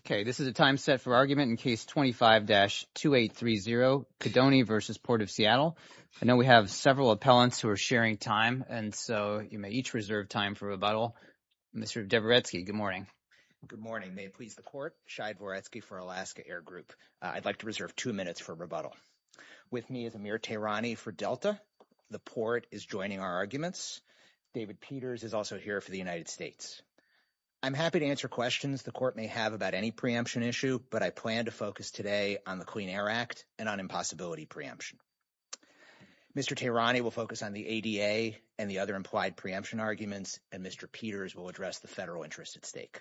Okay, this is a time set for argument in case 25-2830, Codoni v. Port of Seattle. I know we have several appellants who are sharing time, and so you may each reserve time for rebuttal. Mr. Dvoretsky, good morning. Good morning. May it please the Court, Shai Dvoretsky for Alaska Air Group. I'd like to reserve two minutes for rebuttal. With me is Amir Tehrani for Delta. The Port is joining our arguments. David Peters is also here for the United States. I'm happy to answer questions. The Court may have about any preemption issue, but I plan to focus today on the Clean Air Act and on impossibility preemption. Mr. Tehrani will focus on the ADA and the other implied preemption arguments, and Mr. Peters will address the federal interest at stake.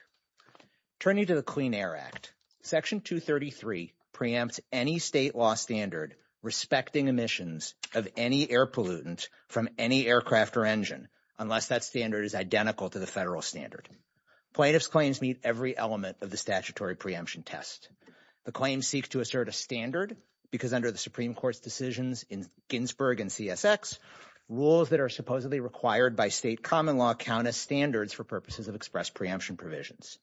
Turning to the Clean Air Act, Section 233 preempts any state law standard respecting emissions of any air pollutant from any aircraft or engine unless that standard is identical to the federal standard. Plaintiffs' claims meet every element of the statutory preemption test. The claims seek to assert a standard because under the Supreme Court's decisions in Ginsburg and CSX, rules that are supposedly required by state common law count as standards for purposes of express preemption provisions.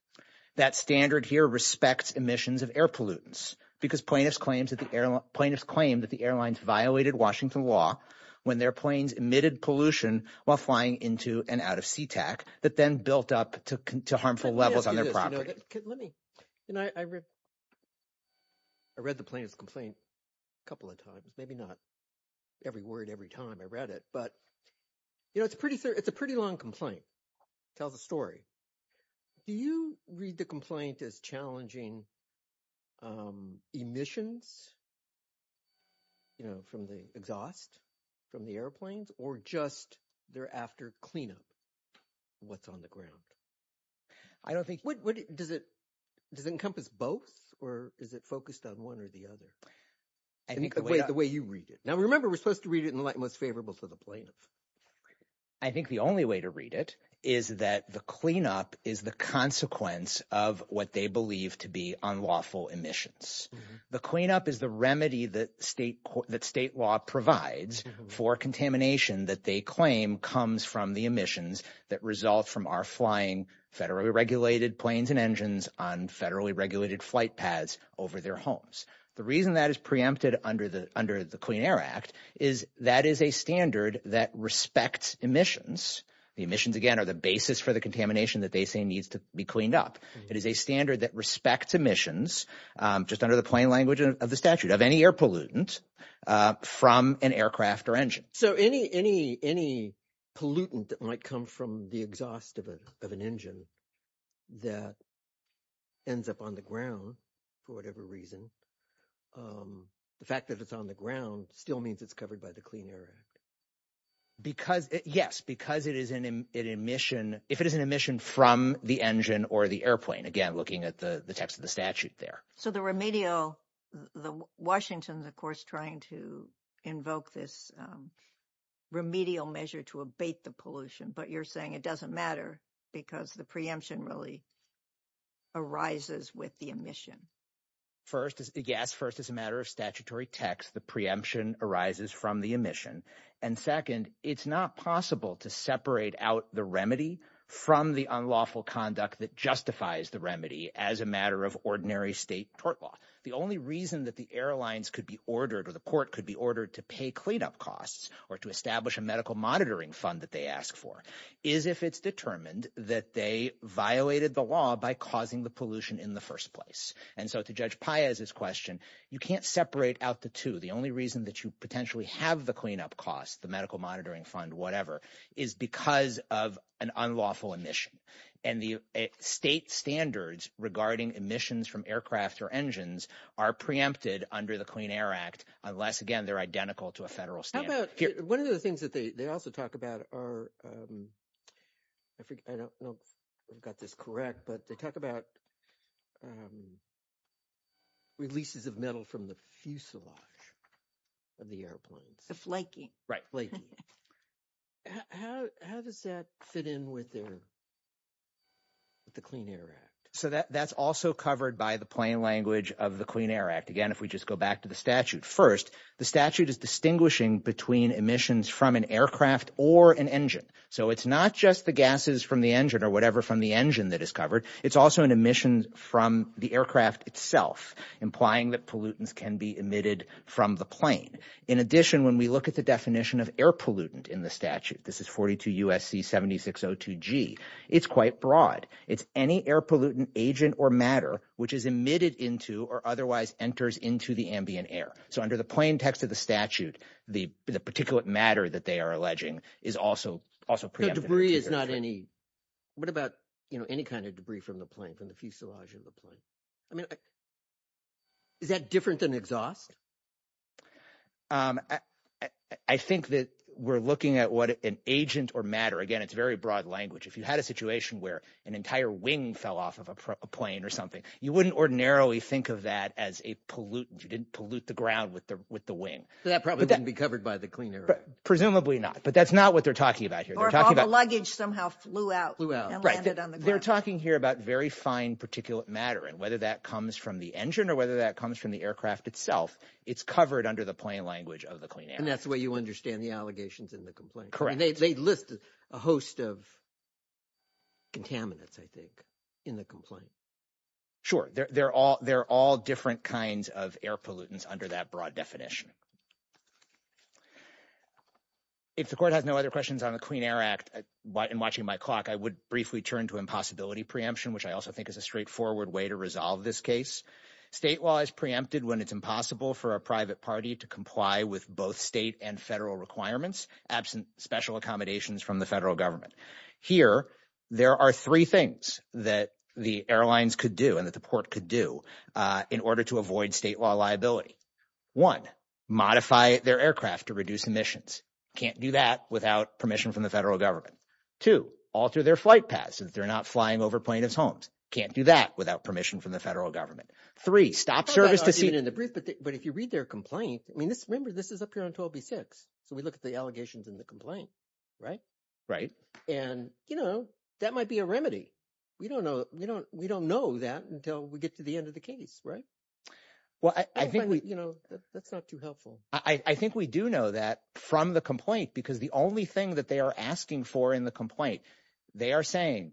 That standard here respects emissions of air pollutants because plaintiffs claim that the airlines violated Washington law when their planes emitted pollution while flying into and out of SeaTac that then built up to harmful levels on their property. I read the plaintiff's complaint a couple of times, maybe not every word every time I read it, but it's a pretty long complaint. It tells a story. Do you read the complaint as challenging emissions from the exhaust, from the airplanes, or just thereafter cleanup? What's on the ground? I don't think what does it does encompass both or is it focused on one or the other? I think the way the way you read it now, remember, we're supposed to read it in the light most favorable for the plaintiff. I think the only way to read it is that the cleanup is the consequence of what they believe to be unlawful emissions. The cleanup is the remedy that state law provides for contamination that they claim comes from the emissions that result from our flying federally regulated planes and engines on federally regulated flight paths over their homes. The reason that is preempted under the Clean Air Act is that is a standard that respects emissions. The emissions, again, are the basis for the contamination that they say needs to be cleaned up. It is a standard that respects emissions just under the plain language of the statute of any air pollutant from an aircraft or engine. So any pollutant that might come from the exhaust of an engine that ends up on the ground for whatever reason, the fact that it's on the ground still means it's covered by the Clean Air Act. Because, yes, because it is an emission, if it is an emission from the engine or the airplane, again, looking at the text of the statute there. So the remedial, the Washington, of course, trying to invoke this remedial measure to abate the pollution. But you're saying it doesn't matter because the preemption really arises with the emission. First, yes, first, as a matter of statutory text, the preemption arises from the emission. And second, it's not possible to separate out the remedy from the unlawful conduct that justifies the remedy as a matter of ordinary state tort law. The only reason that the airlines could be ordered or the court could be ordered to pay cleanup costs or to establish a medical monitoring fund that they ask for is if it's determined that they violated the law by causing the pollution in the first place. And so to Judge Paez's question, you can't separate out the two. The only reason that you potentially have the cleanup cost, the medical monitoring fund, whatever, is because of an unlawful emission. And the state standards regarding emissions from aircraft or engines are preempted under the Clean Air Act, unless, again, they're identical to a federal standard. How about one of the things that they also talk about are, I don't know if I've got this correct, but they talk about releases of metal from the fuselage of the airplanes. Right, flaky. How does that fit in with the Clean Air Act? So that's also covered by the plain language of the Clean Air Act. Again, if we just go back to the statute. First, the statute is distinguishing between emissions from an aircraft or an engine. So it's not just the gases from the engine or whatever from the engine that is covered. It's also an emission from the aircraft itself, implying that pollutants can be emitted from the plane. In addition, when we look at the definition of air pollutant in the statute, this is 42 USC 7602G, it's quite broad. It's any air pollutant agent or matter which is emitted into or otherwise enters into the ambient air. So under the plain text of the statute, the particulate matter that they are alleging is also also debris is not any. What about any kind of debris from the plane, from the fuselage of the plane? I mean, is that different than exhaust? I think that we're looking at what an agent or matter. Again, it's very broad language. If you had a situation where an entire wing fell off of a plane or something, you wouldn't ordinarily think of that as a pollutant. You didn't pollute the ground with the wing. That probably wouldn't be covered by the Clean Air Act. Presumably not. But that's not what they're talking about here. They're talking about luggage somehow flew out, flew out, landed on the ground. They're talking here about very fine particulate matter and whether that comes from the engine or whether that comes from the aircraft itself. It's covered under the plain language of the Clean Air Act. And that's the way you understand the allegations in the complaint. Correct. They list a host of. Contaminants, I think, in the complaint. Sure, they're all they're all different kinds of air pollutants under that broad definition. If the court has no other questions on the Clean Air Act and watching my clock, I would briefly turn to impossibility preemption, which I also think is a straightforward way to resolve this case. State law is preempted when it's impossible for a private party to comply with both state and federal requirements absent special accommodations from the federal government. Here, there are three things that the airlines could do and that the port could do in order to avoid state law liability. One, modify their aircraft to reduce emissions. Can't do that without permission from the federal government to alter their flight paths and they're not flying over plaintiff's homes. Can't do that without permission from the federal government. Three, stop service to see it in the brief. But if you read their complaint, I mean, remember, this is up here until B6. So we look at the allegations in the complaint. Right. Right. And, you know, that might be a remedy. We don't know. We don't we don't know that until we get to the end of the case. Right. Well, I think, you know, that's not too helpful. I think we do know that from the complaint, because the only thing that they are asking for in the complaint, they are saying,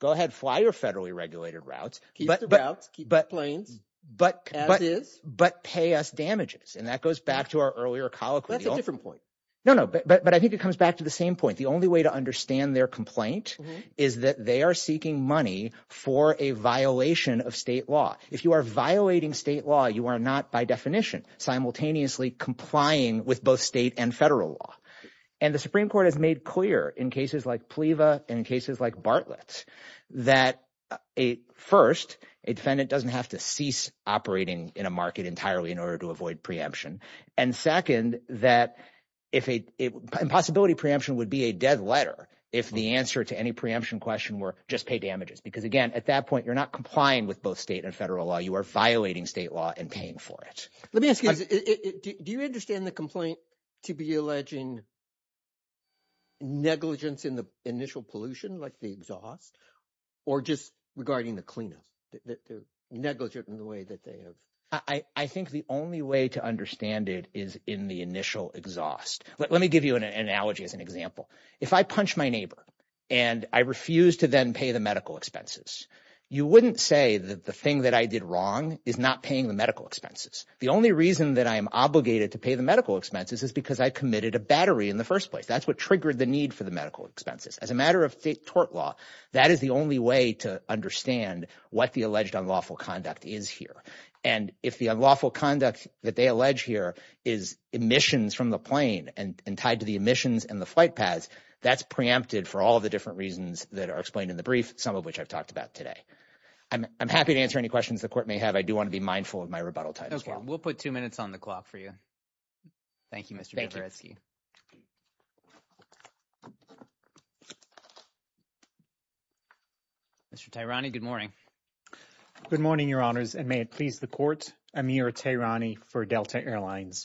go ahead, fly your federally regulated routes. Keep the routes, keep the planes, as is. But pay us damages. And that goes back to our earlier colloquy. That's a different point. No, no. But I think it comes back to the same point. The only way to understand their complaint is that they are seeking money for a violation of state law. If you are violating state law, you are not, by definition, simultaneously complying with both state and federal law. And the Supreme Court has made clear in cases like PLEVA and cases like Bartlett that a first, a defendant doesn't have to cease operating in a market entirely in order to avoid preemption. And second, that if a possibility preemption would be a dead letter if the answer to any preemption question were just pay damages. Because again, at that point, you're not complying with both state and federal law. You are violating state law and paying for it. Let me ask you, do you understand the complaint to be alleging negligence in the initial pollution, like the exhaust, or just regarding the cleanup, the negligence in the way that they have? I think the only way to understand it is in the initial exhaust. Let me give you an analogy as an example. If I punch my neighbor and I refuse to then pay the medical expenses, you wouldn't say that the thing that I did wrong is not paying the medical expenses. The only reason that I am obligated to pay the medical expenses is because I committed a battery in the first place. That's what triggered the need for the medical expenses. As a matter of tort law, that is the only way to understand what the alleged unlawful conduct is here. And if the unlawful conduct that they allege here is emissions from the plane and tied to the emissions and the flight paths, that's preempted for all of the different reasons that are explained in the brief, some of which I've talked about today. I'm happy to answer any questions the court may have. I do want to be mindful of my rebuttal time as well. We'll put two minutes on the clock for you. Thank you, Mr. Brzezinski. Mr. Tehrani, good morning. Good morning, your honors, and may it please the court, Amir Tehrani for Delta Airlines.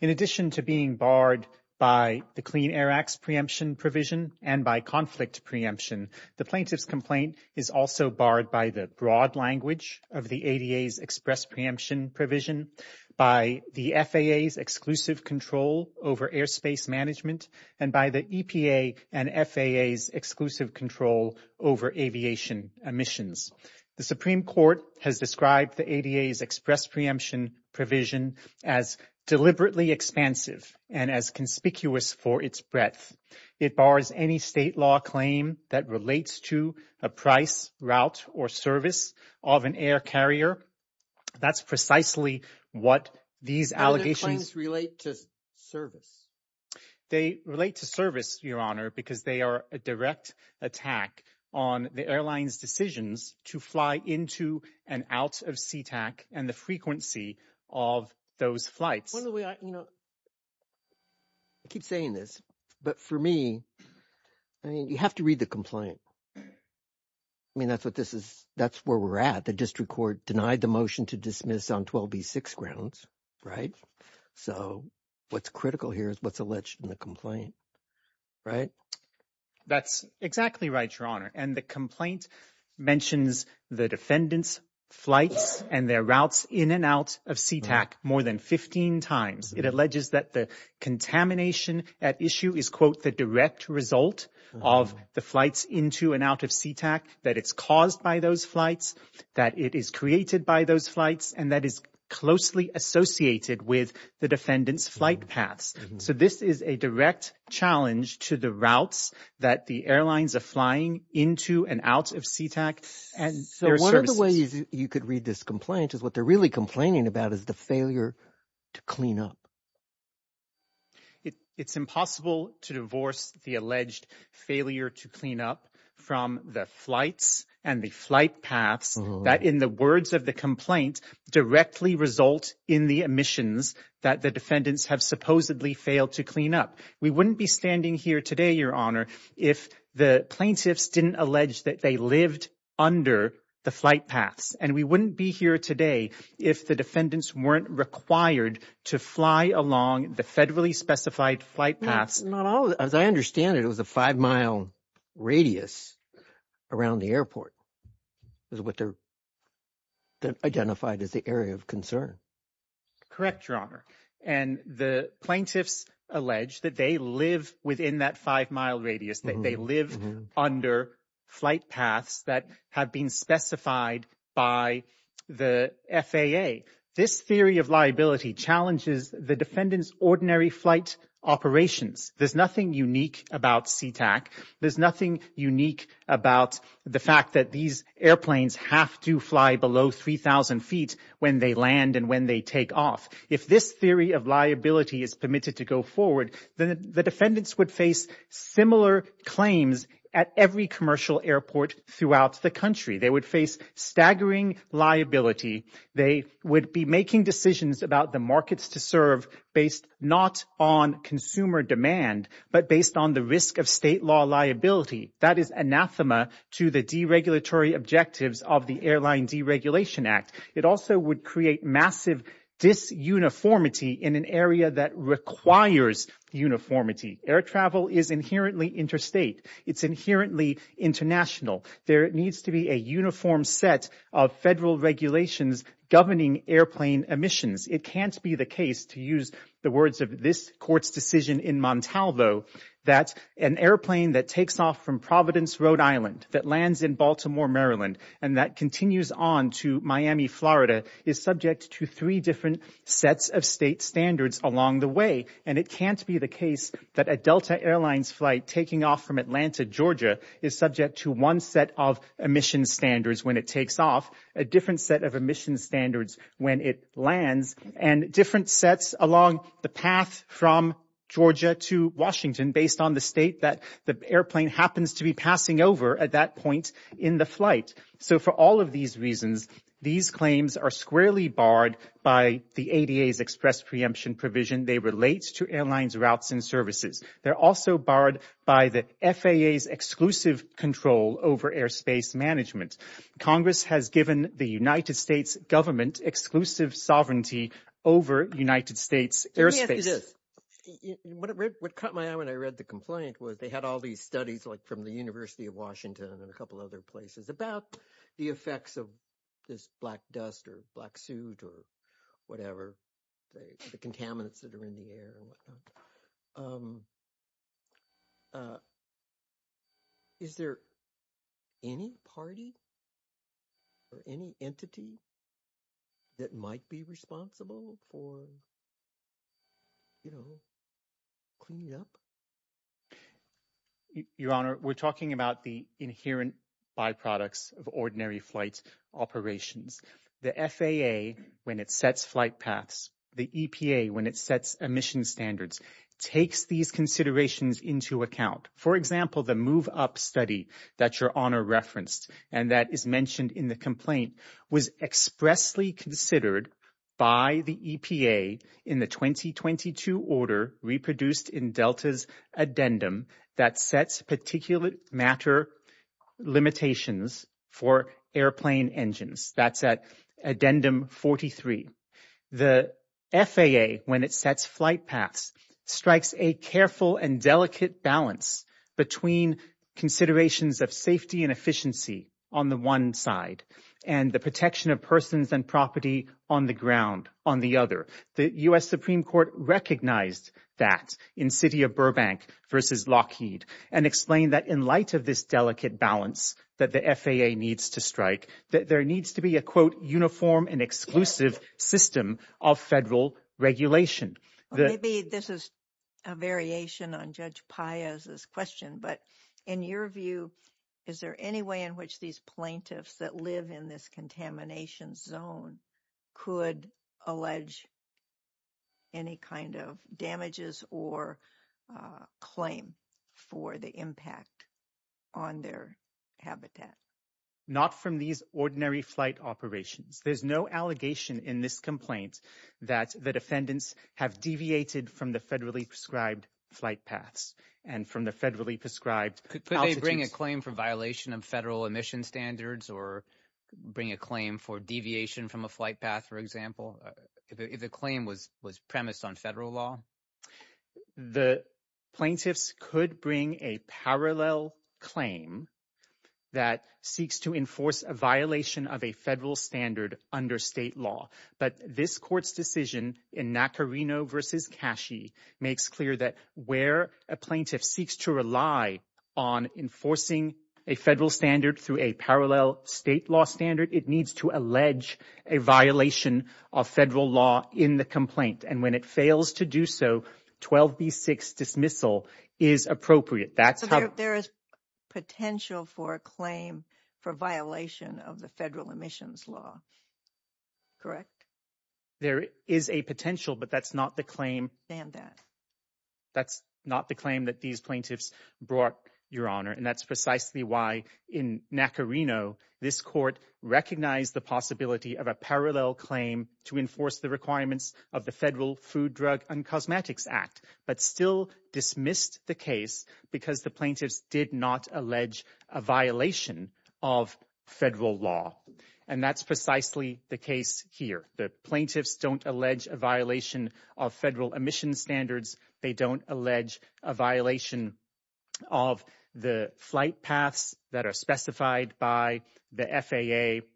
In addition to being barred by the Clean Air Act's preemption provision and by conflict preemption, the plaintiff's complaint is also barred by the broad language of the ADA's express preemption provision, by the FAA's exclusive control over airspace management, and by the EPA and FAA's exclusive control over aviation emissions. The Supreme Court has described the ADA's express preemption provision as deliberately expansive and as conspicuous for its breadth. It bars any state law claim that relates to a price, route, or service of an air carrier. That's precisely what these allegations- How do the claims relate to service? They relate to service, your honor, because they are a direct attack on the airline's decisions to fly into and out of SeaTac and the frequency of those flights. One of the ways, you know, I keep saying this, but for me, I mean, you have to read the complaint. I mean, that's what this is. That's where we're at. The district court denied the motion to dismiss on 12B6 grounds, right? So what's critical here is what's alleged in the complaint, right? That's exactly right, your honor. And the complaint mentions the defendant's flights and their routes in and out of SeaTac more than 15 times. It alleges that the contamination at issue is, quote, the direct result of the flights into and out of SeaTac, that it's caused by those flights, that it is created by those flights, and that is closely associated with the defendant's flight paths. So this is a direct challenge to the routes that the airlines are flying into and out of SeaTac. And so one of the ways you could read this complaint is what they're really complaining about is the failure to clean up. It's impossible to divorce the alleged failure to clean up from the flights and the flight paths that, in the words of the complaint, directly result in the emissions that the airline failed to clean up. We wouldn't be standing here today, your honor, if the plaintiffs didn't allege that they lived under the flight paths. And we wouldn't be here today if the defendants weren't required to fly along the federally specified flight paths. Not all, as I understand it, it was a five-mile radius around the airport is what they're identified as the area of concern. Correct, your honor. And the plaintiffs allege that they live within that five-mile radius, that they live under flight paths that have been specified by the FAA. This theory of liability challenges the defendant's ordinary flight operations. There's nothing unique about SeaTac. There's nothing unique about the fact that these airplanes have to fly below 3,000 feet when they land and when they take off. If this theory of liability is permitted to go forward, then the defendants would face similar claims at every commercial airport throughout the country. They would face staggering liability. They would be making decisions about the markets to serve based not on consumer demand, but based on the risk of state law liability. That is anathema to the deregulatory objectives of the Airline Deregulation Act. It also would create massive disuniformity in an area that requires uniformity. Air travel is inherently interstate. It's inherently international. There needs to be a uniform set of federal regulations governing airplane emissions. It can't be the case, to use the words of this court's decision in Montalvo, that an airplane that takes off from Providence, Rhode Island, that lands in Baltimore, Maryland, and that continues on to Miami, Florida, is subject to three different sets of state standards along the way. And it can't be the case that a Delta Airlines flight taking off from Atlanta, Georgia, is subject to one set of emissions standards when it takes off, a different set of emissions standards when it lands, and different sets along the path from Georgia to Washington based on the state that the airplane happens to be passing over at that point in the flight. So for all of these reasons, these claims are squarely barred by the ADA's express preemption provision. They relate to airlines, routes, and services. They're also barred by the FAA's exclusive control over airspace management. Congress has given the United States government exclusive sovereignty over United States airspace. Let me ask you this. What caught my eye when I read the complaint was they had all these studies, like from the University of Washington and a couple other places, about the effects of this black dust or black soot or whatever, the contaminants that are in the air and whatnot. Is there any party or any entity that might be responsible for, you know, cleaning up? Your Honor, we're talking about the inherent byproducts of ordinary flight operations. The FAA, when it sets flight paths, the EPA, when it sets emission standards, takes these considerations into account. For example, the Move Up study that Your Honor referenced and that is mentioned in the addendum that sets particulate matter limitations for airplane engines. That's at addendum 43. The FAA, when it sets flight paths, strikes a careful and delicate balance between considerations of safety and efficiency on the one side and the protection of persons and property on the ground on the other. The U.S. Supreme Court recognized that in the city of Burbank versus Lockheed and explained that in light of this delicate balance that the FAA needs to strike, that there needs to be a, quote, uniform and exclusive system of federal regulation. Well, maybe this is a variation on Judge Paez's question. But in your view, is there any way in which these plaintiffs that live in this contamination zone could allege any kind of damages or claim for the impact on their habitat? Not from these ordinary flight operations. There's no allegation in this complaint that the defendants have deviated from the federally prescribed flight paths and from the federally prescribed altitudes. Could they bring a claim for violation of federal emission standards or bring a claim for deviation from a flight path, for example, if the claim was premised on federal law? The plaintiffs could bring a parallel claim that seeks to enforce a violation of a federal standard under state law. But this court's decision in Nacarino versus Cachey makes clear that where a plaintiff seeks to rely on enforcing a federal standard through a parallel state law standard, it needs to allege a violation of federal law in the complaint. And when it fails to do so, 12B6 dismissal is appropriate. That's how there is potential for a claim for violation of the federal emissions law. Correct. There is a potential, but that's not the claim. And that that's not the claim that these plaintiffs brought, Your Honor. And that's precisely why in Nacarino, this court recognized the possibility of a parallel claim to enforce the requirements of the Federal Food, Drug and Cosmetics Act, but still dismissed the case because the plaintiffs did not allege a violation of federal law. And that's precisely the case here. The plaintiffs don't allege a violation of federal emission standards. They don't allege a violation of the flight paths that are specified by the FAA.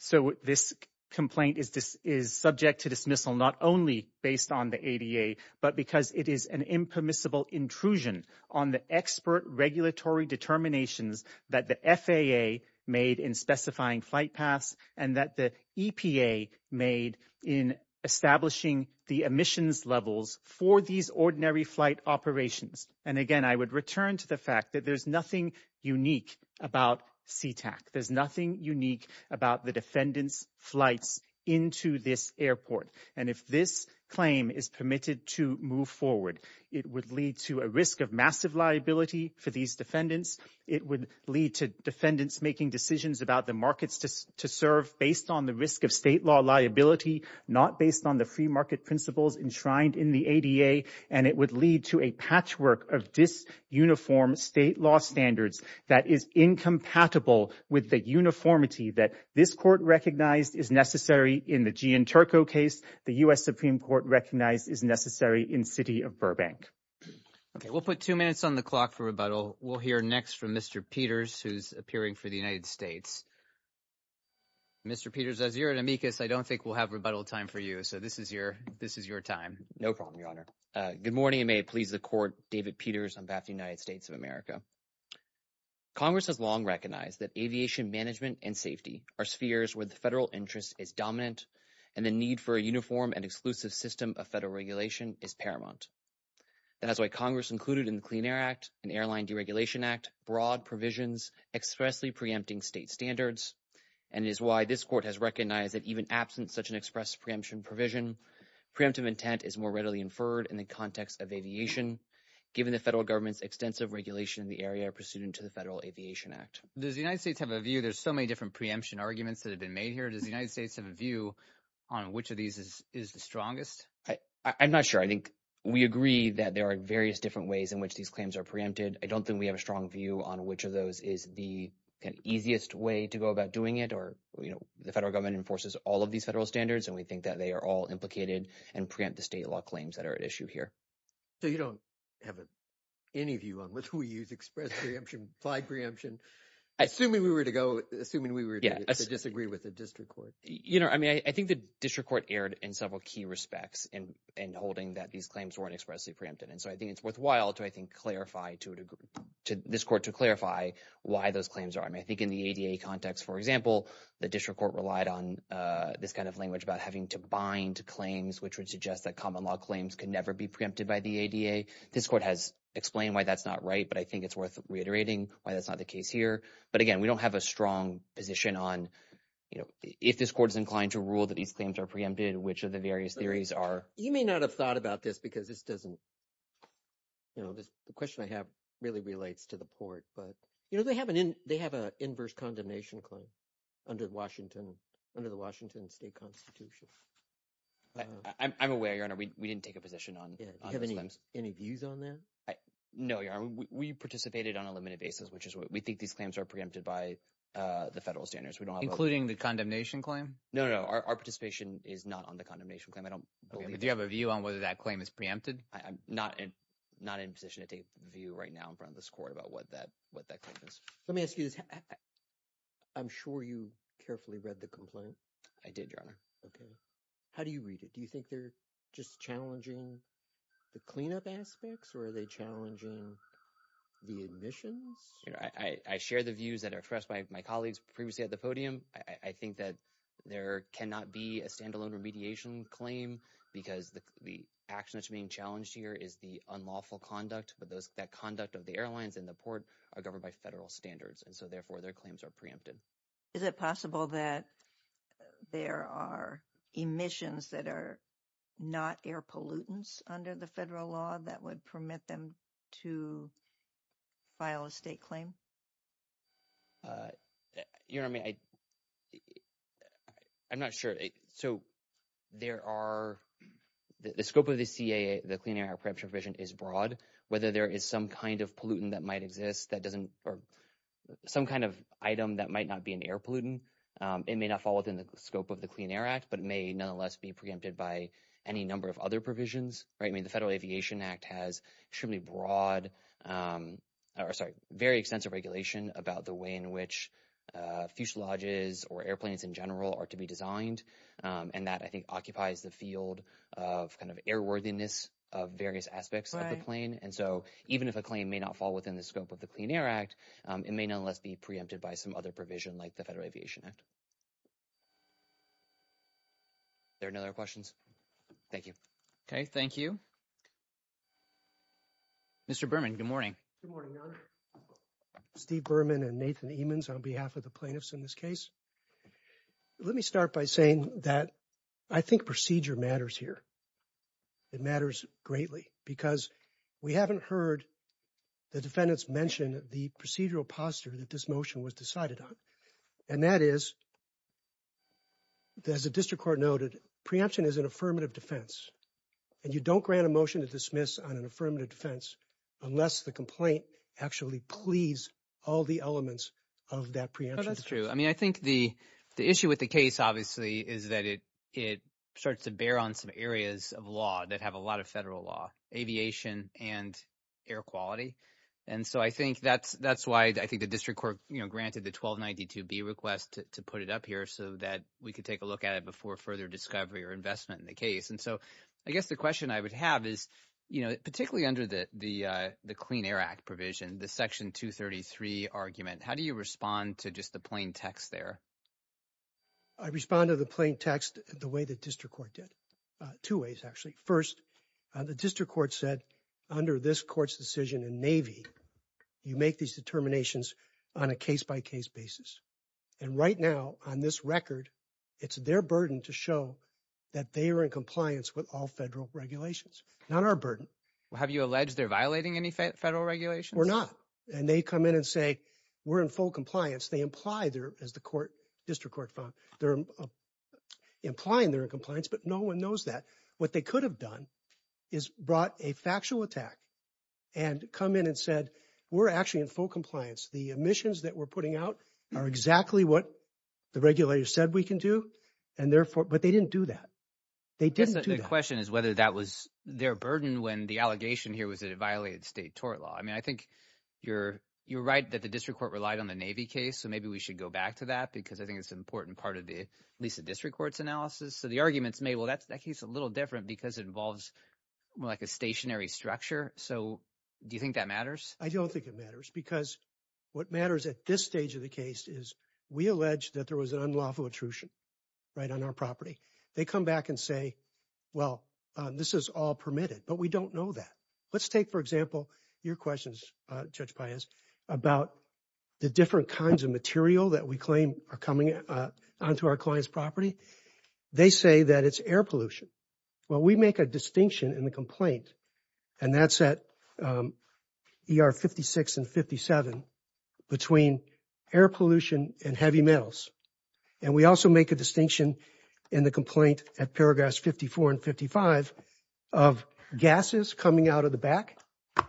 So this complaint is subject to dismissal not only based on the ADA, but because it is an impermissible intrusion on the expert regulatory determinations that the FAA made in specifying flight paths and that the EPA made in establishing the emissions levels for these ordinary flight operations. And again, I would return to the fact that there's nothing unique about Sea-Tac. There's nothing unique about the defendants' flights into this airport. And if this claim is permitted to move forward, it would lead to a risk of massive liability for these defendants. It would lead to defendants making decisions about the markets to serve based on the risk of state law liability, not based on the free market principles enshrined in the ADA. And it would lead to a patchwork of dis-uniform state law standards that is incompatible with the uniformity that this court recognized is necessary in the Gian Turco case, the U.S. Supreme Court recognized is necessary in City of Burbank. Okay, we'll put two minutes on the clock for rebuttal. We'll hear next from Mr. Peters, who's appearing for the United States. Mr. Peters, as you're an amicus, I don't think we'll have rebuttal time for you. So this is your, this is your time. No problem, Your Honor. Good morning, and may it please the court, David Peters, on behalf of the United States of America. Congress has long recognized that aviation management and safety are spheres where the federal interest is dominant, and the need for a uniform and exclusive system of federal regulation is paramount. That's why Congress included in the Clean Air Act and Airline Deregulation Act broad provisions expressly preempting state standards, and is why this court has recognized that even absent such an express preemption provision, preemptive intent is more readily inferred in the context of aviation, given the federal government's extensive regulation in the area pursuant to the Federal Aviation Act. Does the United States have a view? There's so many different preemption arguments that have been made here. Does the United States have a view on which of these is the strongest? I'm not sure. I think we agree that there are various different ways in which these claims are preempted. I don't think we have a strong view on which of those is the easiest way to go about doing it or, you know, the federal government enforces all of these federal standards, and we think that they are all implicated and preempt the state law claims that are at issue here. So you don't have any view on which we use express preemption, applied preemption, assuming we were to go, assuming we were to disagree with the district court? You know, I mean, I think the district court erred in several key respects in holding that these claims weren't expressly preempted. So I think it's worthwhile to, I think, clarify to this court to clarify why those claims are. I mean, I think in the ADA context, for example, the district court relied on this kind of language about having to bind claims, which would suggest that common law claims could never be preempted by the ADA. This court has explained why that's not right, but I think it's worth reiterating why that's not the case here. But again, we don't have a strong position on, you know, if this court is inclined to rule that these claims are preempted, which of the various theories are. You may not have thought about this because this doesn't, you know, the question I have really relates to the court, but, you know, they have an inverse condemnation claim under Washington, under the Washington state constitution. I'm aware, Your Honor, we didn't take a position on. Yeah, do you have any views on that? No, Your Honor, we participated on a limited basis, which is what we think these claims are preempted by the federal standards. We don't have. Including the condemnation claim? No, no, our participation is not on the condemnation claim. Do you have a view on whether that claim is preempted? I'm not in, not in a position to take a view right now in front of this court about what that, what that claim is. Let me ask you this. I'm sure you carefully read the complaint. I did, Your Honor. Okay. How do you read it? Do you think they're just challenging the cleanup aspects or are they challenging the admissions? I share the views that are expressed by my colleagues previously at the podium. I think that there cannot be a standalone remediation claim because the action that's being challenged here is the unlawful conduct, but those, that conduct of the airlines and the port are governed by federal standards. And so therefore their claims are preempted. Is it possible that there are emissions that are not air pollutants under the federal law that would permit them to file a state claim? Your Honor, I mean, I, I'm not sure. So there are, the scope of the CAA, the Clean Air Act preemption provision is broad. Whether there is some kind of pollutant that might exist that doesn't, or some kind of item that might not be an air pollutant, it may not fall within the scope of the Clean Air Act, but it may nonetheless be preempted by any number of other provisions, right? I mean, the Federal Aviation Act has extremely broad, or sorry, very extensive provisions about the way in which fuselages or airplanes in general are to be designed. And that I think occupies the field of kind of airworthiness of various aspects of the plane. And so even if a claim may not fall within the scope of the Clean Air Act, it may nonetheless be preempted by some other provision like the Federal Aviation Act. There are no other questions? Thank you. Okay, thank you. Mr. Berman, good morning. Good morning, Your Honor. Steve Berman and Nathan Emens on behalf of the plaintiffs in this case. Let me start by saying that I think procedure matters here. It matters greatly because we haven't heard the defendants mention the procedural posture that this motion was decided on. And that is, as the District Court noted, preemption is an affirmative defense. And you don't grant a motion to dismiss on an affirmative defense unless the complaint actually pleads all the elements of that preemption. That's true. I mean, I think the issue with the case obviously is that it starts to bear on some areas of law that have a lot of federal law, aviation and air quality. And so I think that's why I think the District Court granted the 1292B request to put it up here so that we could take a look at it before further discovery or investment in the case. And so I guess the question I would have is, you know, particularly under the Clean Air Act provision, the Section 233 argument, how do you respond to just the plain text there? I respond to the plain text the way the District Court did. Two ways, actually. First, the District Court said under this court's decision in Navy, you make these determinations on a case-by-case basis. And right now, on this record, it's their burden to show that they are in compliance with all federal regulations, not our burden. Have you alleged they're violating any federal regulations? We're not. And they come in and say, we're in full compliance. They imply, as the District Court found, they're implying they're in compliance, but no one knows that. What they could have done is brought a factual attack and come in and said, we're actually in full compliance. The omissions that we're putting out are exactly what the regulators said we can do. And therefore, but they didn't do that. They didn't do that. The question is whether that was their burden when the allegation here was that it violated state tort law. I mean, I think you're right that the District Court relied on the Navy case. So maybe we should go back to that because I think it's an important part of the, at least, the District Court's analysis. So the arguments may, well, that case is a little different because it involves more like a stationary structure. So do you think that matters? I don't think it matters because what matters at this stage of the case is we allege that there was an unlawful intrusion, right, on our property. They come back and say, well, this is all permitted. But we don't know that. Let's take, for example, your questions, Judge Paez, about the different kinds of material that we claim are coming onto our client's property. They say that it's air pollution. Well, we make a distinction in the complaint, and that's at ER 56 and 57, between air pollution and heavy metals. And we also make a distinction in the complaint at paragraphs 54 and 55 of gases coming out of the back,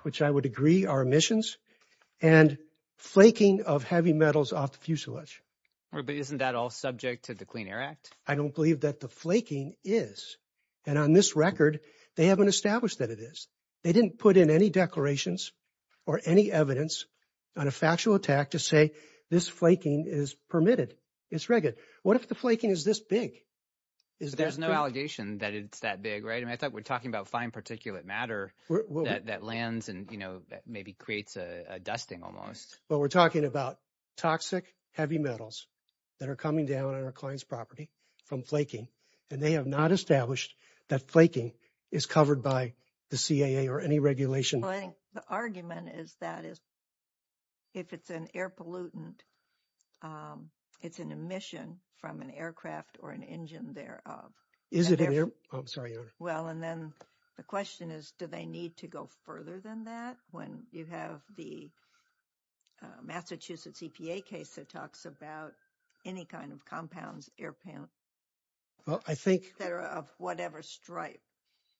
which I would agree are emissions, and flaking of heavy metals off the fuselage. But isn't that all subject to the Clean Air Act? I don't believe that the flaking is. And on this record, they haven't established that it is. They didn't put in any declarations or any evidence on a factual attack to say this flaking is permitted. It's rigged. What if the flaking is this big? There's no allegation that it's that big, right? I mean, I thought we're talking about fine particulate matter that lands and, you know, maybe creates a dusting almost. Well, we're talking about toxic heavy metals that are coming down on our client's property from flaking, and they have not established that flaking is covered by the CAA or any regulation. The argument is that if it's an air pollutant, it's an emission from an aircraft or an engine thereof. Well, and then the question is, do they need to go further than that when you have the Massachusetts EPA case that talks about any kind of compounds, air pellets, that are of whatever stripe?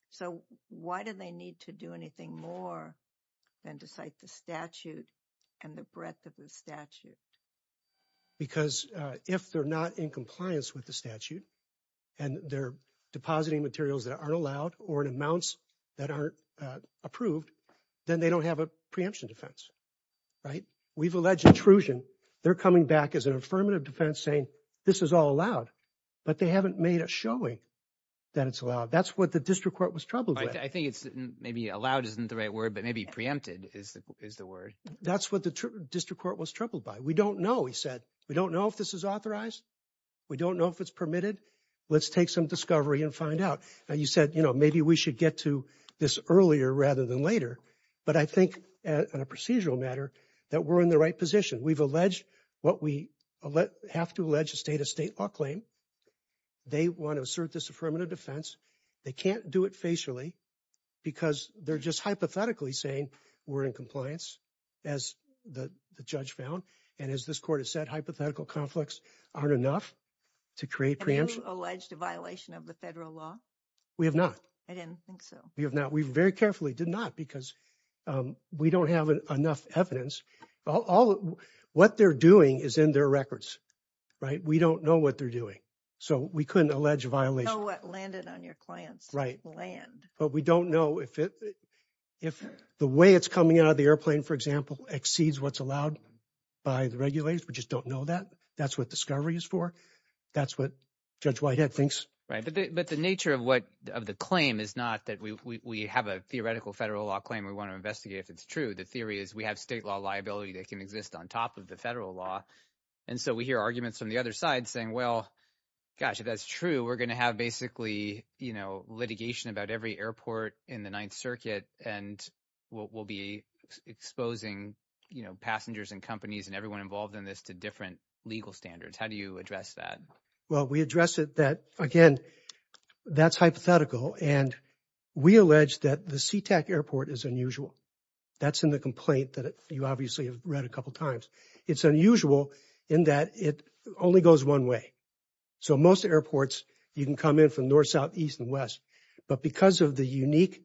So why do they need to do anything more than to cite the statute and the breadth of the Because if they're not in compliance with the statute and they're depositing materials that aren't allowed or in amounts that aren't approved, then they don't have a preemption defense, right? We've alleged intrusion. They're coming back as an affirmative defense saying this is all allowed, but they haven't made a showing that it's allowed. That's what the district court was troubled by. I think it's maybe allowed isn't the right word, but maybe preempted is the word. That's what the district court was troubled by. We don't know. He said, we don't know if this is authorized. We don't know if it's permitted. Let's take some discovery and find out. Now, you said, you know, maybe we should get to this earlier rather than later. But I think on a procedural matter that we're in the right position. We've alleged what we have to allege a state of state law claim. They want to assert this affirmative defense. They can't do it facially because they're just hypothetically saying we're in compliance as the judge found. And as this court has said, hypothetical conflicts aren't enough to create preemption. Alleged a violation of the federal law. We have not. I didn't think so. We very carefully did not because we don't have enough evidence. What they're doing is in their records, right? We don't know what they're doing. So we couldn't allege a violation. Know what landed on your client's land. But we don't know if the way it's coming out of the airplane, for example, exceeds what's allowed by the regulators. We just don't know that. That's what discovery is for. That's what Judge Whitehead thinks. But the nature of what of the claim is not that we have a theoretical federal law claim. We want to investigate if it's true. The theory is we have state law liability that can exist on top of the federal law. And so we hear arguments from the other side saying, well, gosh, if that's true, we're going to have basically, you know, litigation about every airport in the Ninth Circuit. And we'll be exposing passengers and companies and everyone involved in this to different legal standards. How do you address that? Well, we address it that, again, that's hypothetical. And we allege that the Sea-Tac airport is unusual. That's in the complaint that you obviously have read a couple times. It's unusual in that it only goes one way. So most airports, you can come in from north, south, east, and west. But because of the unique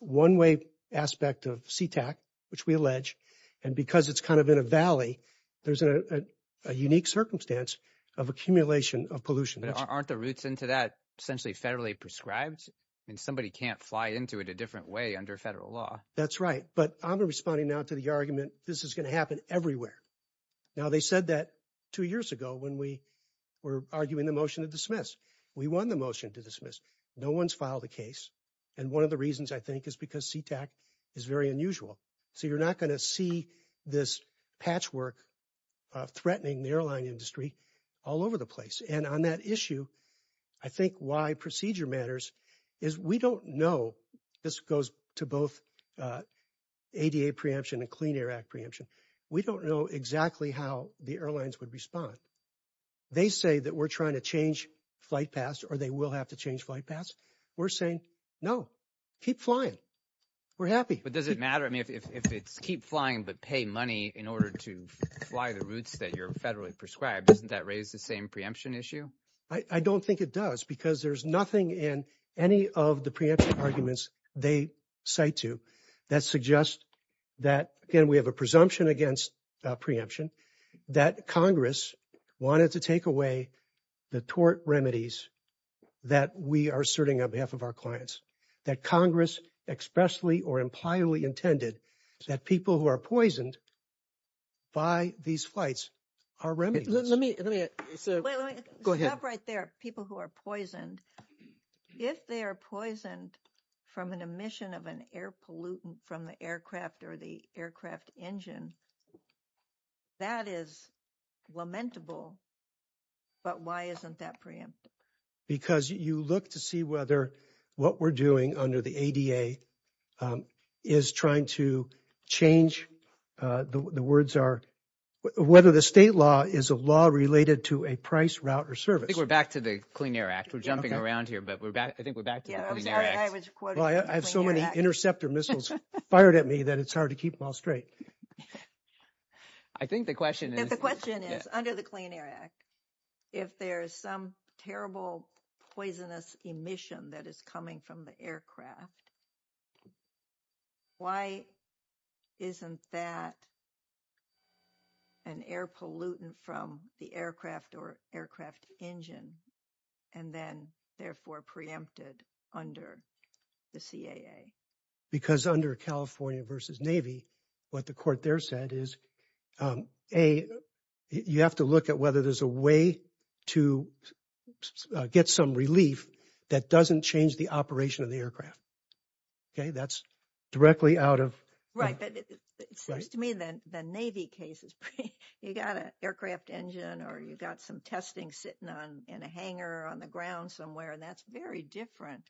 one-way aspect of Sea-Tac, which we allege, and because it's in a valley, there's a unique circumstance of accumulation of pollution. But aren't the routes into that essentially federally prescribed? I mean, somebody can't fly into it a different way under federal law. That's right. But I'm responding now to the argument this is going to happen everywhere. Now, they said that two years ago when we were arguing the motion to dismiss. We won the motion to dismiss. No one's filed a case. And one of the reasons, I think, is because Sea-Tac is very unusual. So you're not going to see this patchwork threatening the airline industry all over the place. And on that issue, I think why procedure matters is we don't know. This goes to both ADA preemption and Clean Air Act preemption. We don't know exactly how the airlines would respond. They say that we're trying to change flight paths, or they will have to change flight paths. We're saying, no, keep flying. We're happy. But does it matter? If it's keep flying but pay money in order to fly the routes that you're federally prescribed, doesn't that raise the same preemption issue? I don't think it does, because there's nothing in any of the preemption arguments they cite to that suggest that, again, we have a presumption against preemption, that Congress wanted to take away the tort remedies that we are asserting on behalf of our clients, that Congress expressly or impliedly intended that people who are poisoned by these flights are remedies. Let me, let me, go ahead. Stop right there, people who are poisoned. If they are poisoned from an emission of an air pollutant from the aircraft or the aircraft engine, that is lamentable. But why isn't that preempted? Because you look to see whether what we're doing under the ADA is trying to change, the words are, whether the state law is a law related to a price route or service. I think we're back to the Clean Air Act. We're jumping around here, but we're back. I think we're back to the Clean Air Act. I have so many interceptor missiles fired at me that it's hard to keep them all straight. I think the question is. Under the Clean Air Act, if there's some terrible poisonous emission that is coming from the aircraft, why isn't that an air pollutant from the aircraft or aircraft engine and then therefore preempted under the CAA? Because under California versus Navy, what the court there said is, A, you have to look at whether there's a way to get some relief that doesn't change the operation of the aircraft. Okay, that's directly out of. Right, but it seems to me that the Navy cases, you got an aircraft engine or you got some testing sitting on in a hangar on the ground somewhere and that's very different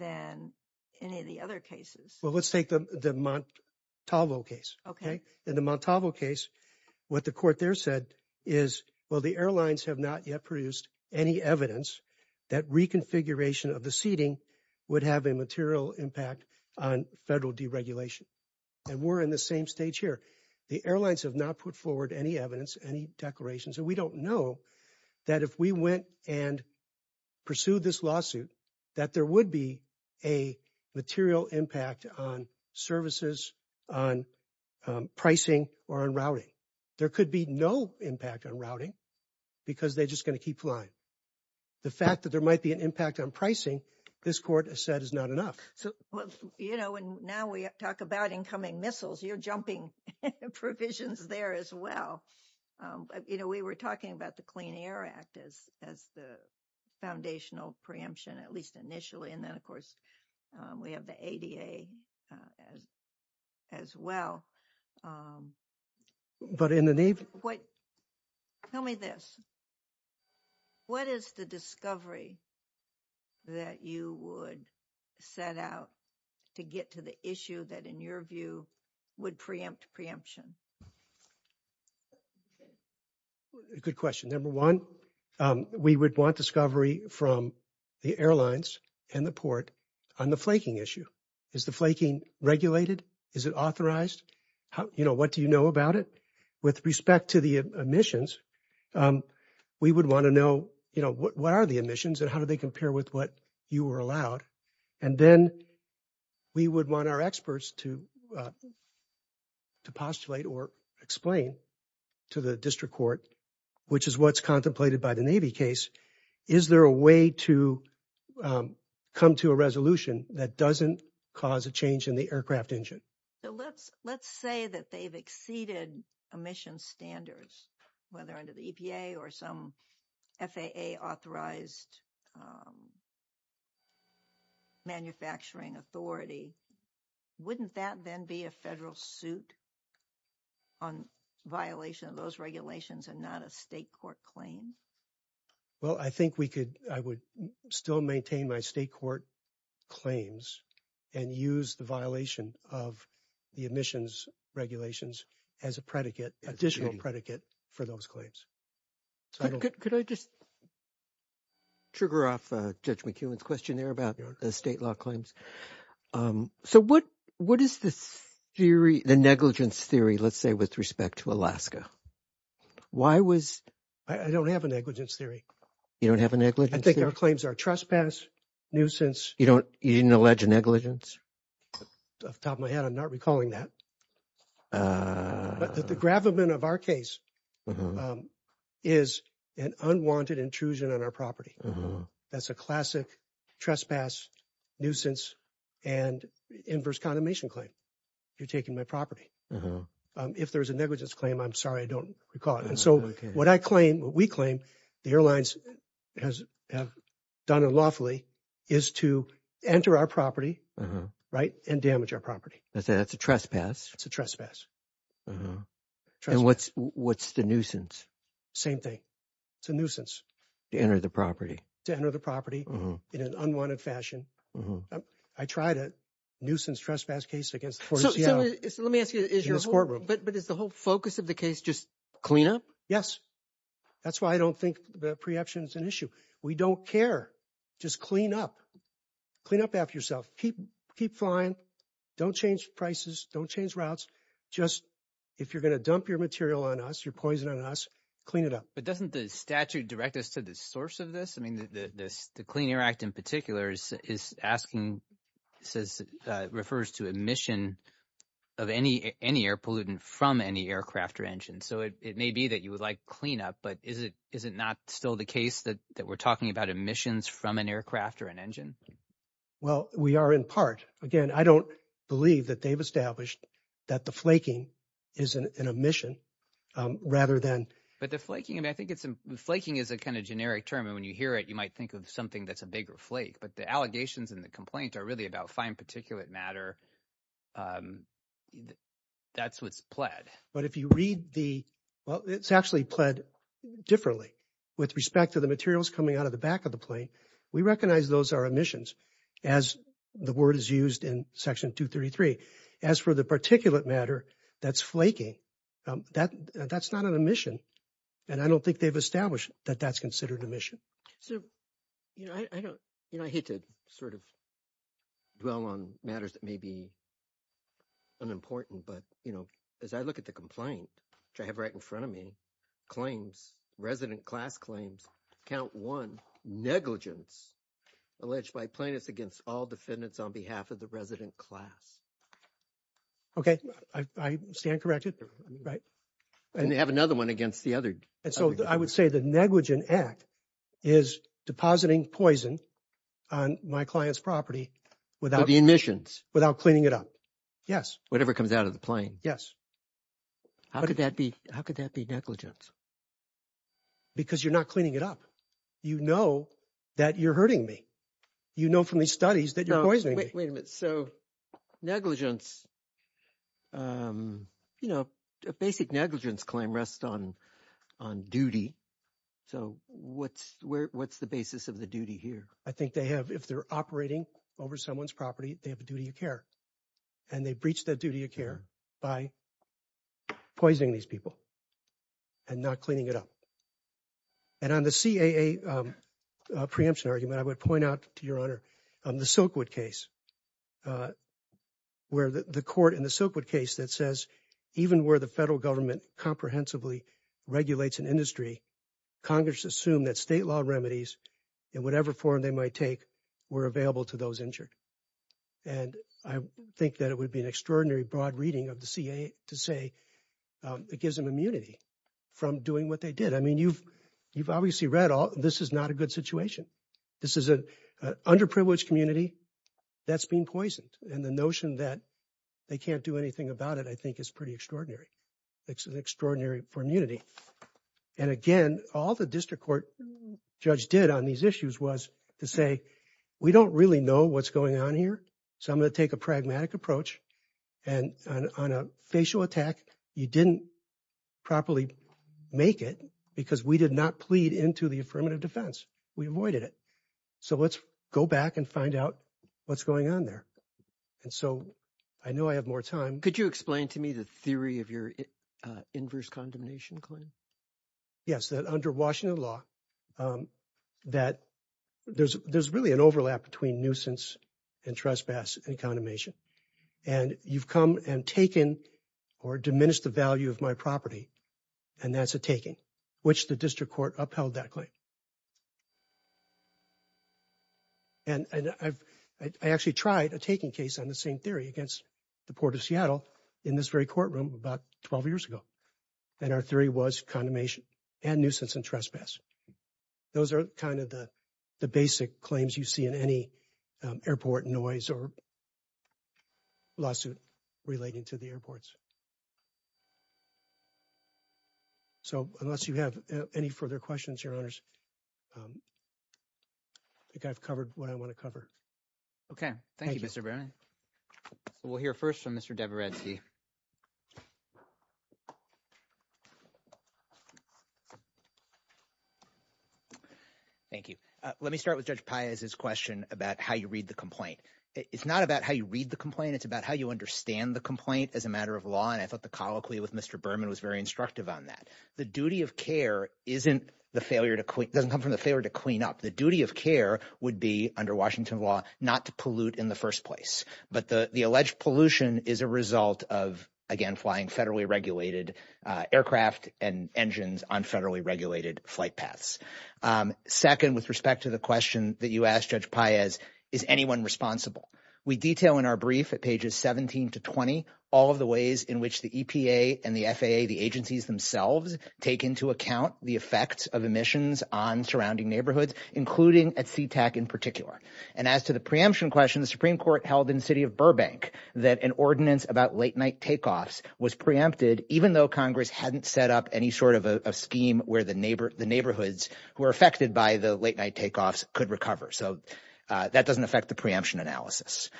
than any other cases. Well, let's take the Montalvo case. Okay, in the Montalvo case, what the court there said is, well, the airlines have not yet produced any evidence that reconfiguration of the seating would have a material impact on federal deregulation. And we're in the same stage here. The airlines have not put forward any evidence, any declarations, and we don't know that if we went and pursued this lawsuit, that there would be a material impact on services, on pricing, or on routing. There could be no impact on routing because they're just going to keep flying. The fact that there might be an impact on pricing, this court has said is not enough. So, you know, and now we talk about incoming missiles, you're jumping provisions there as well. You know, we were talking about the Clean Air Act as the foundational preemption, at least initially. And then, of course, we have the ADA as well. But in the Navy— What—tell me this. What is the discovery that you would set out to get to the issue that, in your view, would preempt preemption? A good question. Number one, we would want discovery from the airlines and the port on the flaking issue. Is the flaking regulated? Is it authorized? You know, what do you know about it? With respect to the emissions, we would want to know, you know, what are the emissions and how do they compare with what you were allowed? And then we would want our experts to postulate or explain to the district court, which is what's contemplated by the Navy case, is there a way to come to a resolution that doesn't cause a change in the aircraft engine? So let's say that they've exceeded emissions standards, whether under the EPA or some FAA authorized manufacturing authority, wouldn't that then be a federal suit on violation of those regulations and not a state court claim? Well, I think we could—I would still maintain my state court claims and use the violation of the emissions regulations as a predicate, additional predicate, for those claims. Could I just trigger off Judge McEwen's question there about the state law claims? So what is the theory, the negligence theory, let's say, with respect to Alaska? Why was— I don't have a negligence theory. You don't have a negligence theory? I think our claims are trespass, nuisance. You don't—you didn't allege a negligence? Off the top of my head, I'm not recalling that. But the gravamen of our case is an unwanted intrusion on our property. That's a classic trespass, nuisance, and inverse condemnation claim. You're taking my property. If there's a negligence claim, I'm sorry, I don't recall it. And so what I claim, what we claim, the airlines have done unlawfully is to enter our property, right, and damage our property. That's a trespass. It's a trespass. And what's the nuisance? Same thing. It's a nuisance. To enter the property. To enter the property in an unwanted fashion. I tried a nuisance trespass case against the court of Seattle. Let me ask you, is your— But is the whole focus of the case just clean up? Yes. That's why I don't think the preemption is an issue. We don't care. Just clean up. Clean up after yourself. Keep flying. Don't change prices. Don't change routes. Just, if you're going to dump your material on us, your poison on us, clean it up. But doesn't the statute direct us to the source of this? I mean, the Clean Air Act in particular is asking, refers to emission of any air pollutant from any aircraft or engine. So it may be that you would like clean up, but is it not still the case that we're talking about emissions from an aircraft or an engine? Well, we are in part. Again, I don't believe that they've established that the flaking is an emission rather than— But the flaking, I mean, I think it's, flaking is a kind of generic term. And when you hear it, you might think of something that's a bigger flake. But the allegations and the complaints are really about fine particulate matter. That's what's pled. But if you read the, well, it's actually pled differently with respect to the materials coming out of the back of the plane. We recognize those are emissions as the word is used in Section 233. As for the particulate matter that's flaking, that's not an emission. And I don't think they've established that that's considered emission. So, you know, I hate to sort of dwell on matters that may be unimportant. But, you know, as I look at the complaint, which I have right in front of me, resident class claims, count one, negligence alleged by plaintiffs against all defendants on behalf of the resident class. OK, I stand corrected, right? And they have another one against the other. And so I would say the negligent act is depositing poison on my client's property without— With the emissions. Without cleaning it up. Yes. Whatever comes out of the plane. Yes. How could that be? How could that be negligence? Because you're not cleaning it up. You know that you're hurting me. You know from these studies that you're poisoning me. Wait a minute. So negligence, you know, a basic negligence claim rests on duty. So what's the basis of the duty here? I think they have, if they're operating over someone's property, they have a duty of care. And they breach that duty of care by poisoning these people. And not cleaning it up. And on the CAA preemption argument, I would point out to your honor, on the Silkwood case, where the court in the Silkwood case that says even where the federal government comprehensively regulates an industry, Congress assumed that state law remedies in whatever form they might take were available to those injured. And I think that it would be an extraordinary broad reading of the CAA to say it gives them immunity from doing what they did. I mean, you've obviously read all, this is not a good situation. This is an underprivileged community that's been poisoned. And the notion that they can't do anything about it, I think is pretty extraordinary. It's an extraordinary immunity. And again, all the district court judge did on these issues was to say, we don't really know what's going on here. So I'm going to take a pragmatic approach. And on a facial attack, you didn't properly make it because we did not plead into the affirmative defense. We avoided it. So let's go back and find out what's going on there. And so I know I have more time. Could you explain to me the theory of your inverse condemnation claim? Yes, that under Washington law, that there's really an overlap between nuisance and trespass and condemnation. And you've come and taken or diminished the value of my property. And that's a taking, which the district court upheld that claim. And I actually tried a taking case on the same theory against the Port of Seattle in this very courtroom about 12 years ago. And our theory was condemnation and nuisance and trespass. Those are kind of the basic claims you see in any airport noise or lawsuit relating to the airports. So unless you have any further questions, your honors, I think I've covered what I want to cover. Thank you, Mr. Brennan. So we'll hear first from Mr. Deborah Redsky. Thank you. Let me start with Judge Piazza's question about how you read the complaint. It's not about how you read the complaint. It's about how you understand the complaint as a matter of law. And I thought the colloquy with Mr. Berman was very instructive on that. The duty of care doesn't come from the failure to clean up. The duty of care would be under Washington law not to pollute in the first place. But the alleged pollution is a result of, again, flying federally regulated aircraft and engines on federally regulated flight paths. Second, with respect to the question that you asked, Judge Piazza, is anyone responsible? We detail in our brief at pages 17 to 20 all of the ways in which the EPA and the FAA, the agencies themselves, take into account the effects of emissions on surrounding neighborhoods, including at SeaTac in particular. And as to the preemption question, the Supreme Court held in the city of Burbank that an ordinance about late night takeoffs was preempted, even though Congress hadn't set up any sort of a scheme where the neighborhoods who are affected by the late night takeoffs could recover. So that doesn't affect the preemption analysis.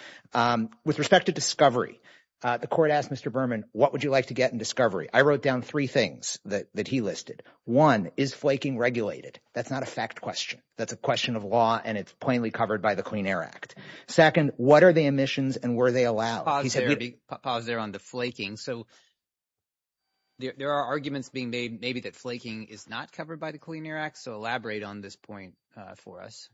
With respect to discovery, the court asked Mr. Berman, what would you like to get in discovery? I wrote down three things that he listed. One, is flaking regulated? That's not a fact question. That's a question of law, and it's plainly covered by the Clean Air Act. Second, what are the emissions and were they allowed? Pause there on the flaking. So there are arguments being made maybe that flaking is not covered by the Clean Air Act. So elaborate on this point for us.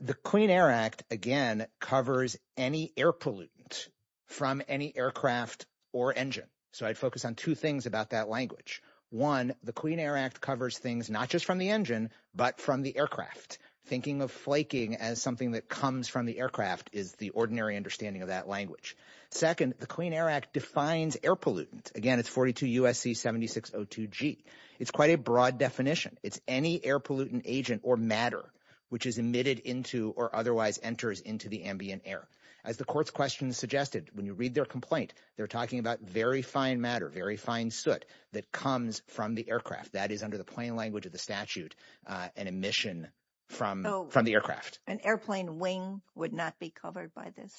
The Clean Air Act, again, covers any air pollutant from any aircraft or engine. So I'd focus on two things about that language. One, the Clean Air Act covers things not just from the engine, but from the aircraft. Thinking of flaking as something that comes from the aircraft is the ordinary understanding of that language. Second, the Clean Air Act defines air pollutant. Again, it's 42 U.S.C. 7602G. It's quite a broad definition. It's any air pollutant agent or matter, which is emitted into or otherwise enters into the ambient air. As the court's question suggested, when you read their complaint, they're talking about very fine matter, very fine soot that comes from the aircraft. That is under the plain language of the statute, an emission from the aircraft. An airplane wing would not be covered by this.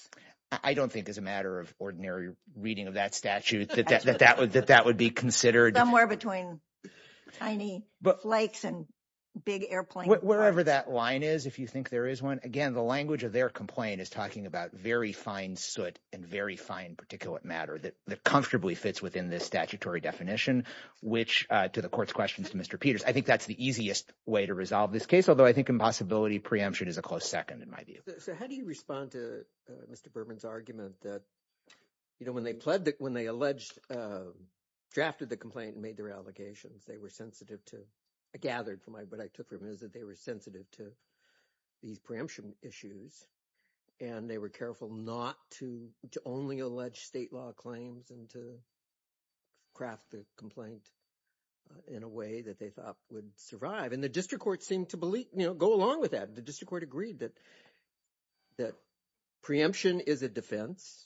I don't think as a matter of ordinary reading of that statute that that would be considered. Somewhere between tiny flakes and big airplane parts. Wherever that line is, if you think there is one. Again, the language of their complaint is talking about very fine soot and very fine particulate matter that comfortably fits within this statutory definition, which to the court's questions to Mr. Peters, I think that's the easiest way to resolve this case. Although I think impossibility preemption is a close second in my view. So how do you respond to Mr. Berman's argument that, you know, when they pledged, when they alleged, drafted the complaint and made their allegations, they were sensitive to, I gathered from what I took from it, is that they were sensitive to these preemption issues. And they were careful not to only allege state law claims and to craft the complaint in a way that they thought would survive. And the district court seemed to believe, you know, go along with that. The district court agreed that preemption is a defense.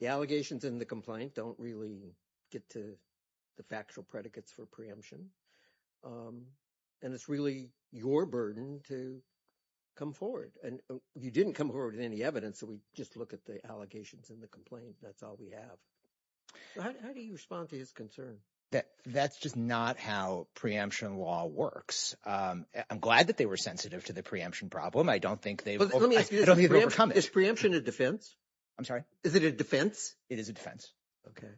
The allegations in the complaint don't really get to the factual predicates for preemption. And it's really your burden to come forward. And you didn't come forward with any evidence. So we just look at the allegations in the complaint. That's all we have. How do you respond to his concern? That's just not how preemption law works. I'm glad that they were sensitive to the preemption problem. I don't think they've overcome it. Is preemption a defense? I'm sorry? Is it a defense? It is a defense. OK.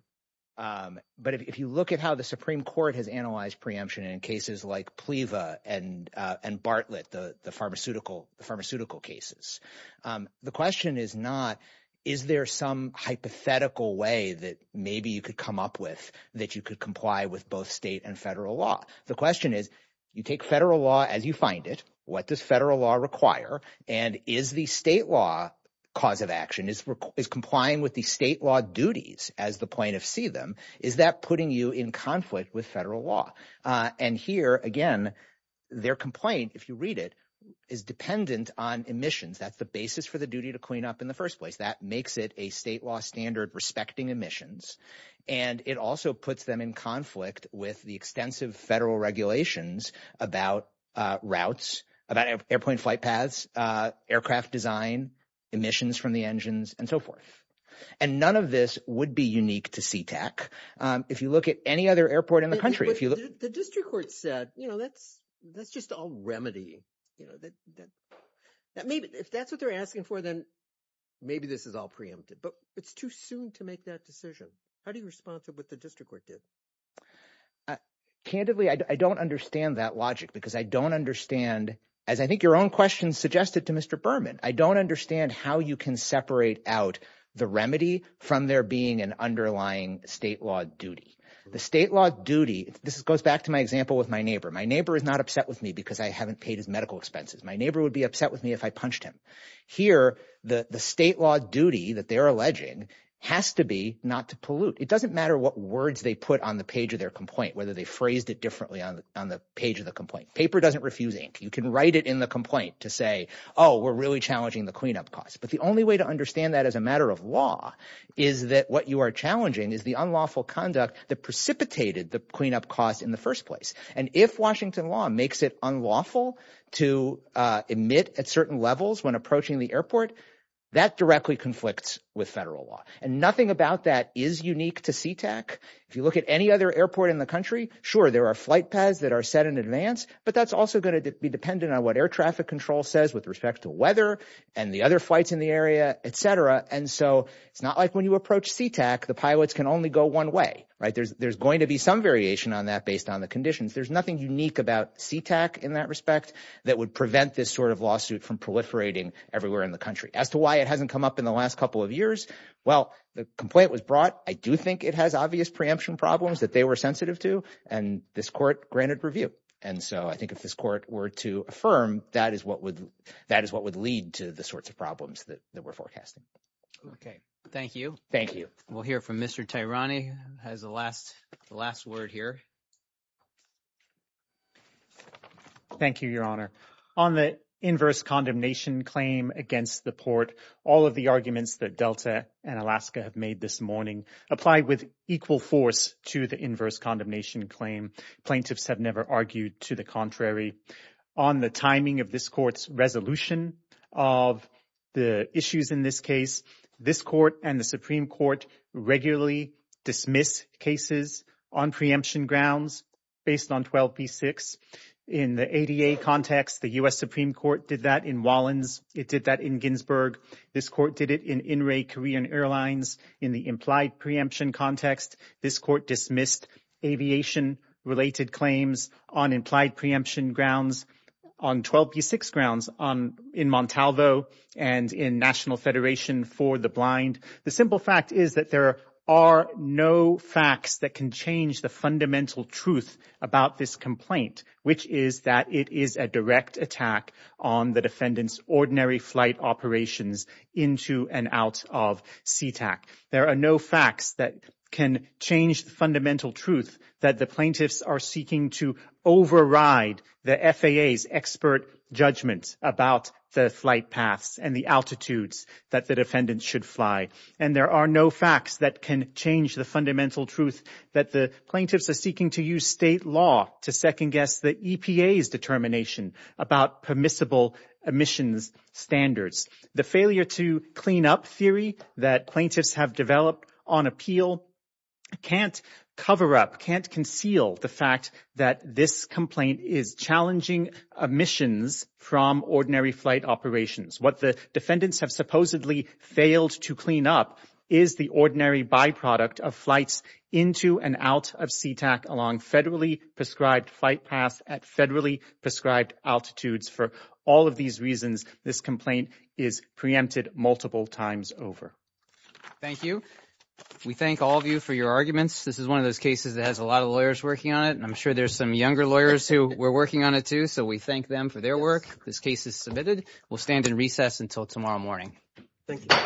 But if you look at how the Supreme Court has analyzed preemption in cases like PLEVA and Bartlett, the pharmaceutical cases, the question is not, is there some hypothetical way that maybe you could come up with that you could comply with both state and federal law? The question is, you take federal law as you find it. What does federal law require? And is the state law cause of action is complying with the state law duties as the plaintiffs see them? Is that putting you in conflict with federal law? And here again, their complaint, if you read it, is dependent on emissions. That's the basis for the duty to clean up in the first place. That makes it a state law standard respecting emissions. And it also puts them in conflict with the extensive federal regulations about routes, about airplane flight paths, aircraft design, emissions from the engines, and so forth. And none of this would be unique to Sea-Tac. If you look at any other airport in the country, if you look at the district court said, you know, that's that's just all remedy. You know, that maybe if that's what they're asking for, then maybe this is all preempted. But it's too soon to make that decision. How do you respond to what the district court did? Candidly, I don't understand that logic because I don't understand, as I think your own question suggested to Mr. Berman, I don't understand how you can separate out the remedy from there being an underlying state law duty. The state law duty. This goes back to my example with my neighbor. My neighbor is not upset with me because I haven't paid his medical expenses. My neighbor would be upset with me if I punched him. Here, the state law duty that they're alleging has to be not to pollute. It doesn't matter what words they put on the page of their complaint, whether they phrased it differently on the page of the complaint. Paper doesn't refuse ink. You can write it in the complaint to say, oh, we're really challenging the cleanup costs. But the only way to understand that as a matter of law is that what you are challenging is the unlawful conduct that precipitated the cleanup costs in the first place. And if Washington law makes it unlawful to emit at certain levels when approaching the airport, that directly conflicts with federal law. And nothing about that is unique to Sea-Tac. If you look at any other airport in the country, sure, there are flight paths that are set in advance, but that's also going to be dependent on what air traffic control says with respect to weather and the other flights in the area, et cetera. And so it's not like when you approach Sea-Tac, the pilots can only go one way, right? There's going to be some variation on that based on the conditions. There's nothing unique about Sea-Tac in that respect that would prevent this sort of lawsuit from proliferating everywhere in the country. As to why it hasn't come up in the last couple of years, well, the complaint was brought. I do think it has obvious preemption problems that they were sensitive to. And this court granted review. And so I think if this court were to affirm, that is what would lead to the sorts of problems that we're forecasting. Okay. Thank you. Thank you. We'll hear from Mr. Tehrani has the last word here. Thank you, Your Honor. On the inverse condemnation claim against the port, all of the arguments that Delta and Alaska have made this morning apply with equal force to the inverse condemnation claim. Plaintiffs have never argued to the contrary. On the timing of this court's resolution of the issues in this case, this court and the Supreme Court regularly dismiss cases on preemption grounds based on 12B6. In the ADA context, the U.S. Supreme Court did that in Wallens. It did that in Ginsburg. This court did it in In-Ray Korean Airlines. In the implied preemption context, this court dismissed aviation-related claims on implied preemption grounds on 12B6 grounds in Montalvo and in National Federation for the Blind. The simple fact is that there are no facts that can change the fundamental truth about this complaint, which is that it is a direct attack on the defendant's ordinary flight operations into and out of Sea-Tac. There are no facts that can change the fundamental truth that the plaintiffs are seeking to override the FAA's expert judgment about the flight paths and the altitudes that the defendant should fly. And there are no facts that can change the fundamental truth that the plaintiffs are seeking to use state law to second-guess the EPA's determination about permissible emissions standards. The failure to clean up theory that plaintiffs have developed on appeal can't cover up, can't conceal the fact that this complaint is challenging emissions from ordinary flight operations. What the defendants have supposedly failed to clean up is the ordinary byproduct of flights into and out of Sea-Tac along federally prescribed flight paths at federally prescribed altitudes. For all of these reasons, this complaint is preempted multiple times over. Thank you. We thank all of you for your arguments. This is one of those cases that has a lot of lawyers working on it, and I'm sure there's some younger lawyers who were working on it too. So we thank them for their work. This case is submitted. We'll stand in recess until tomorrow morning. Thank you.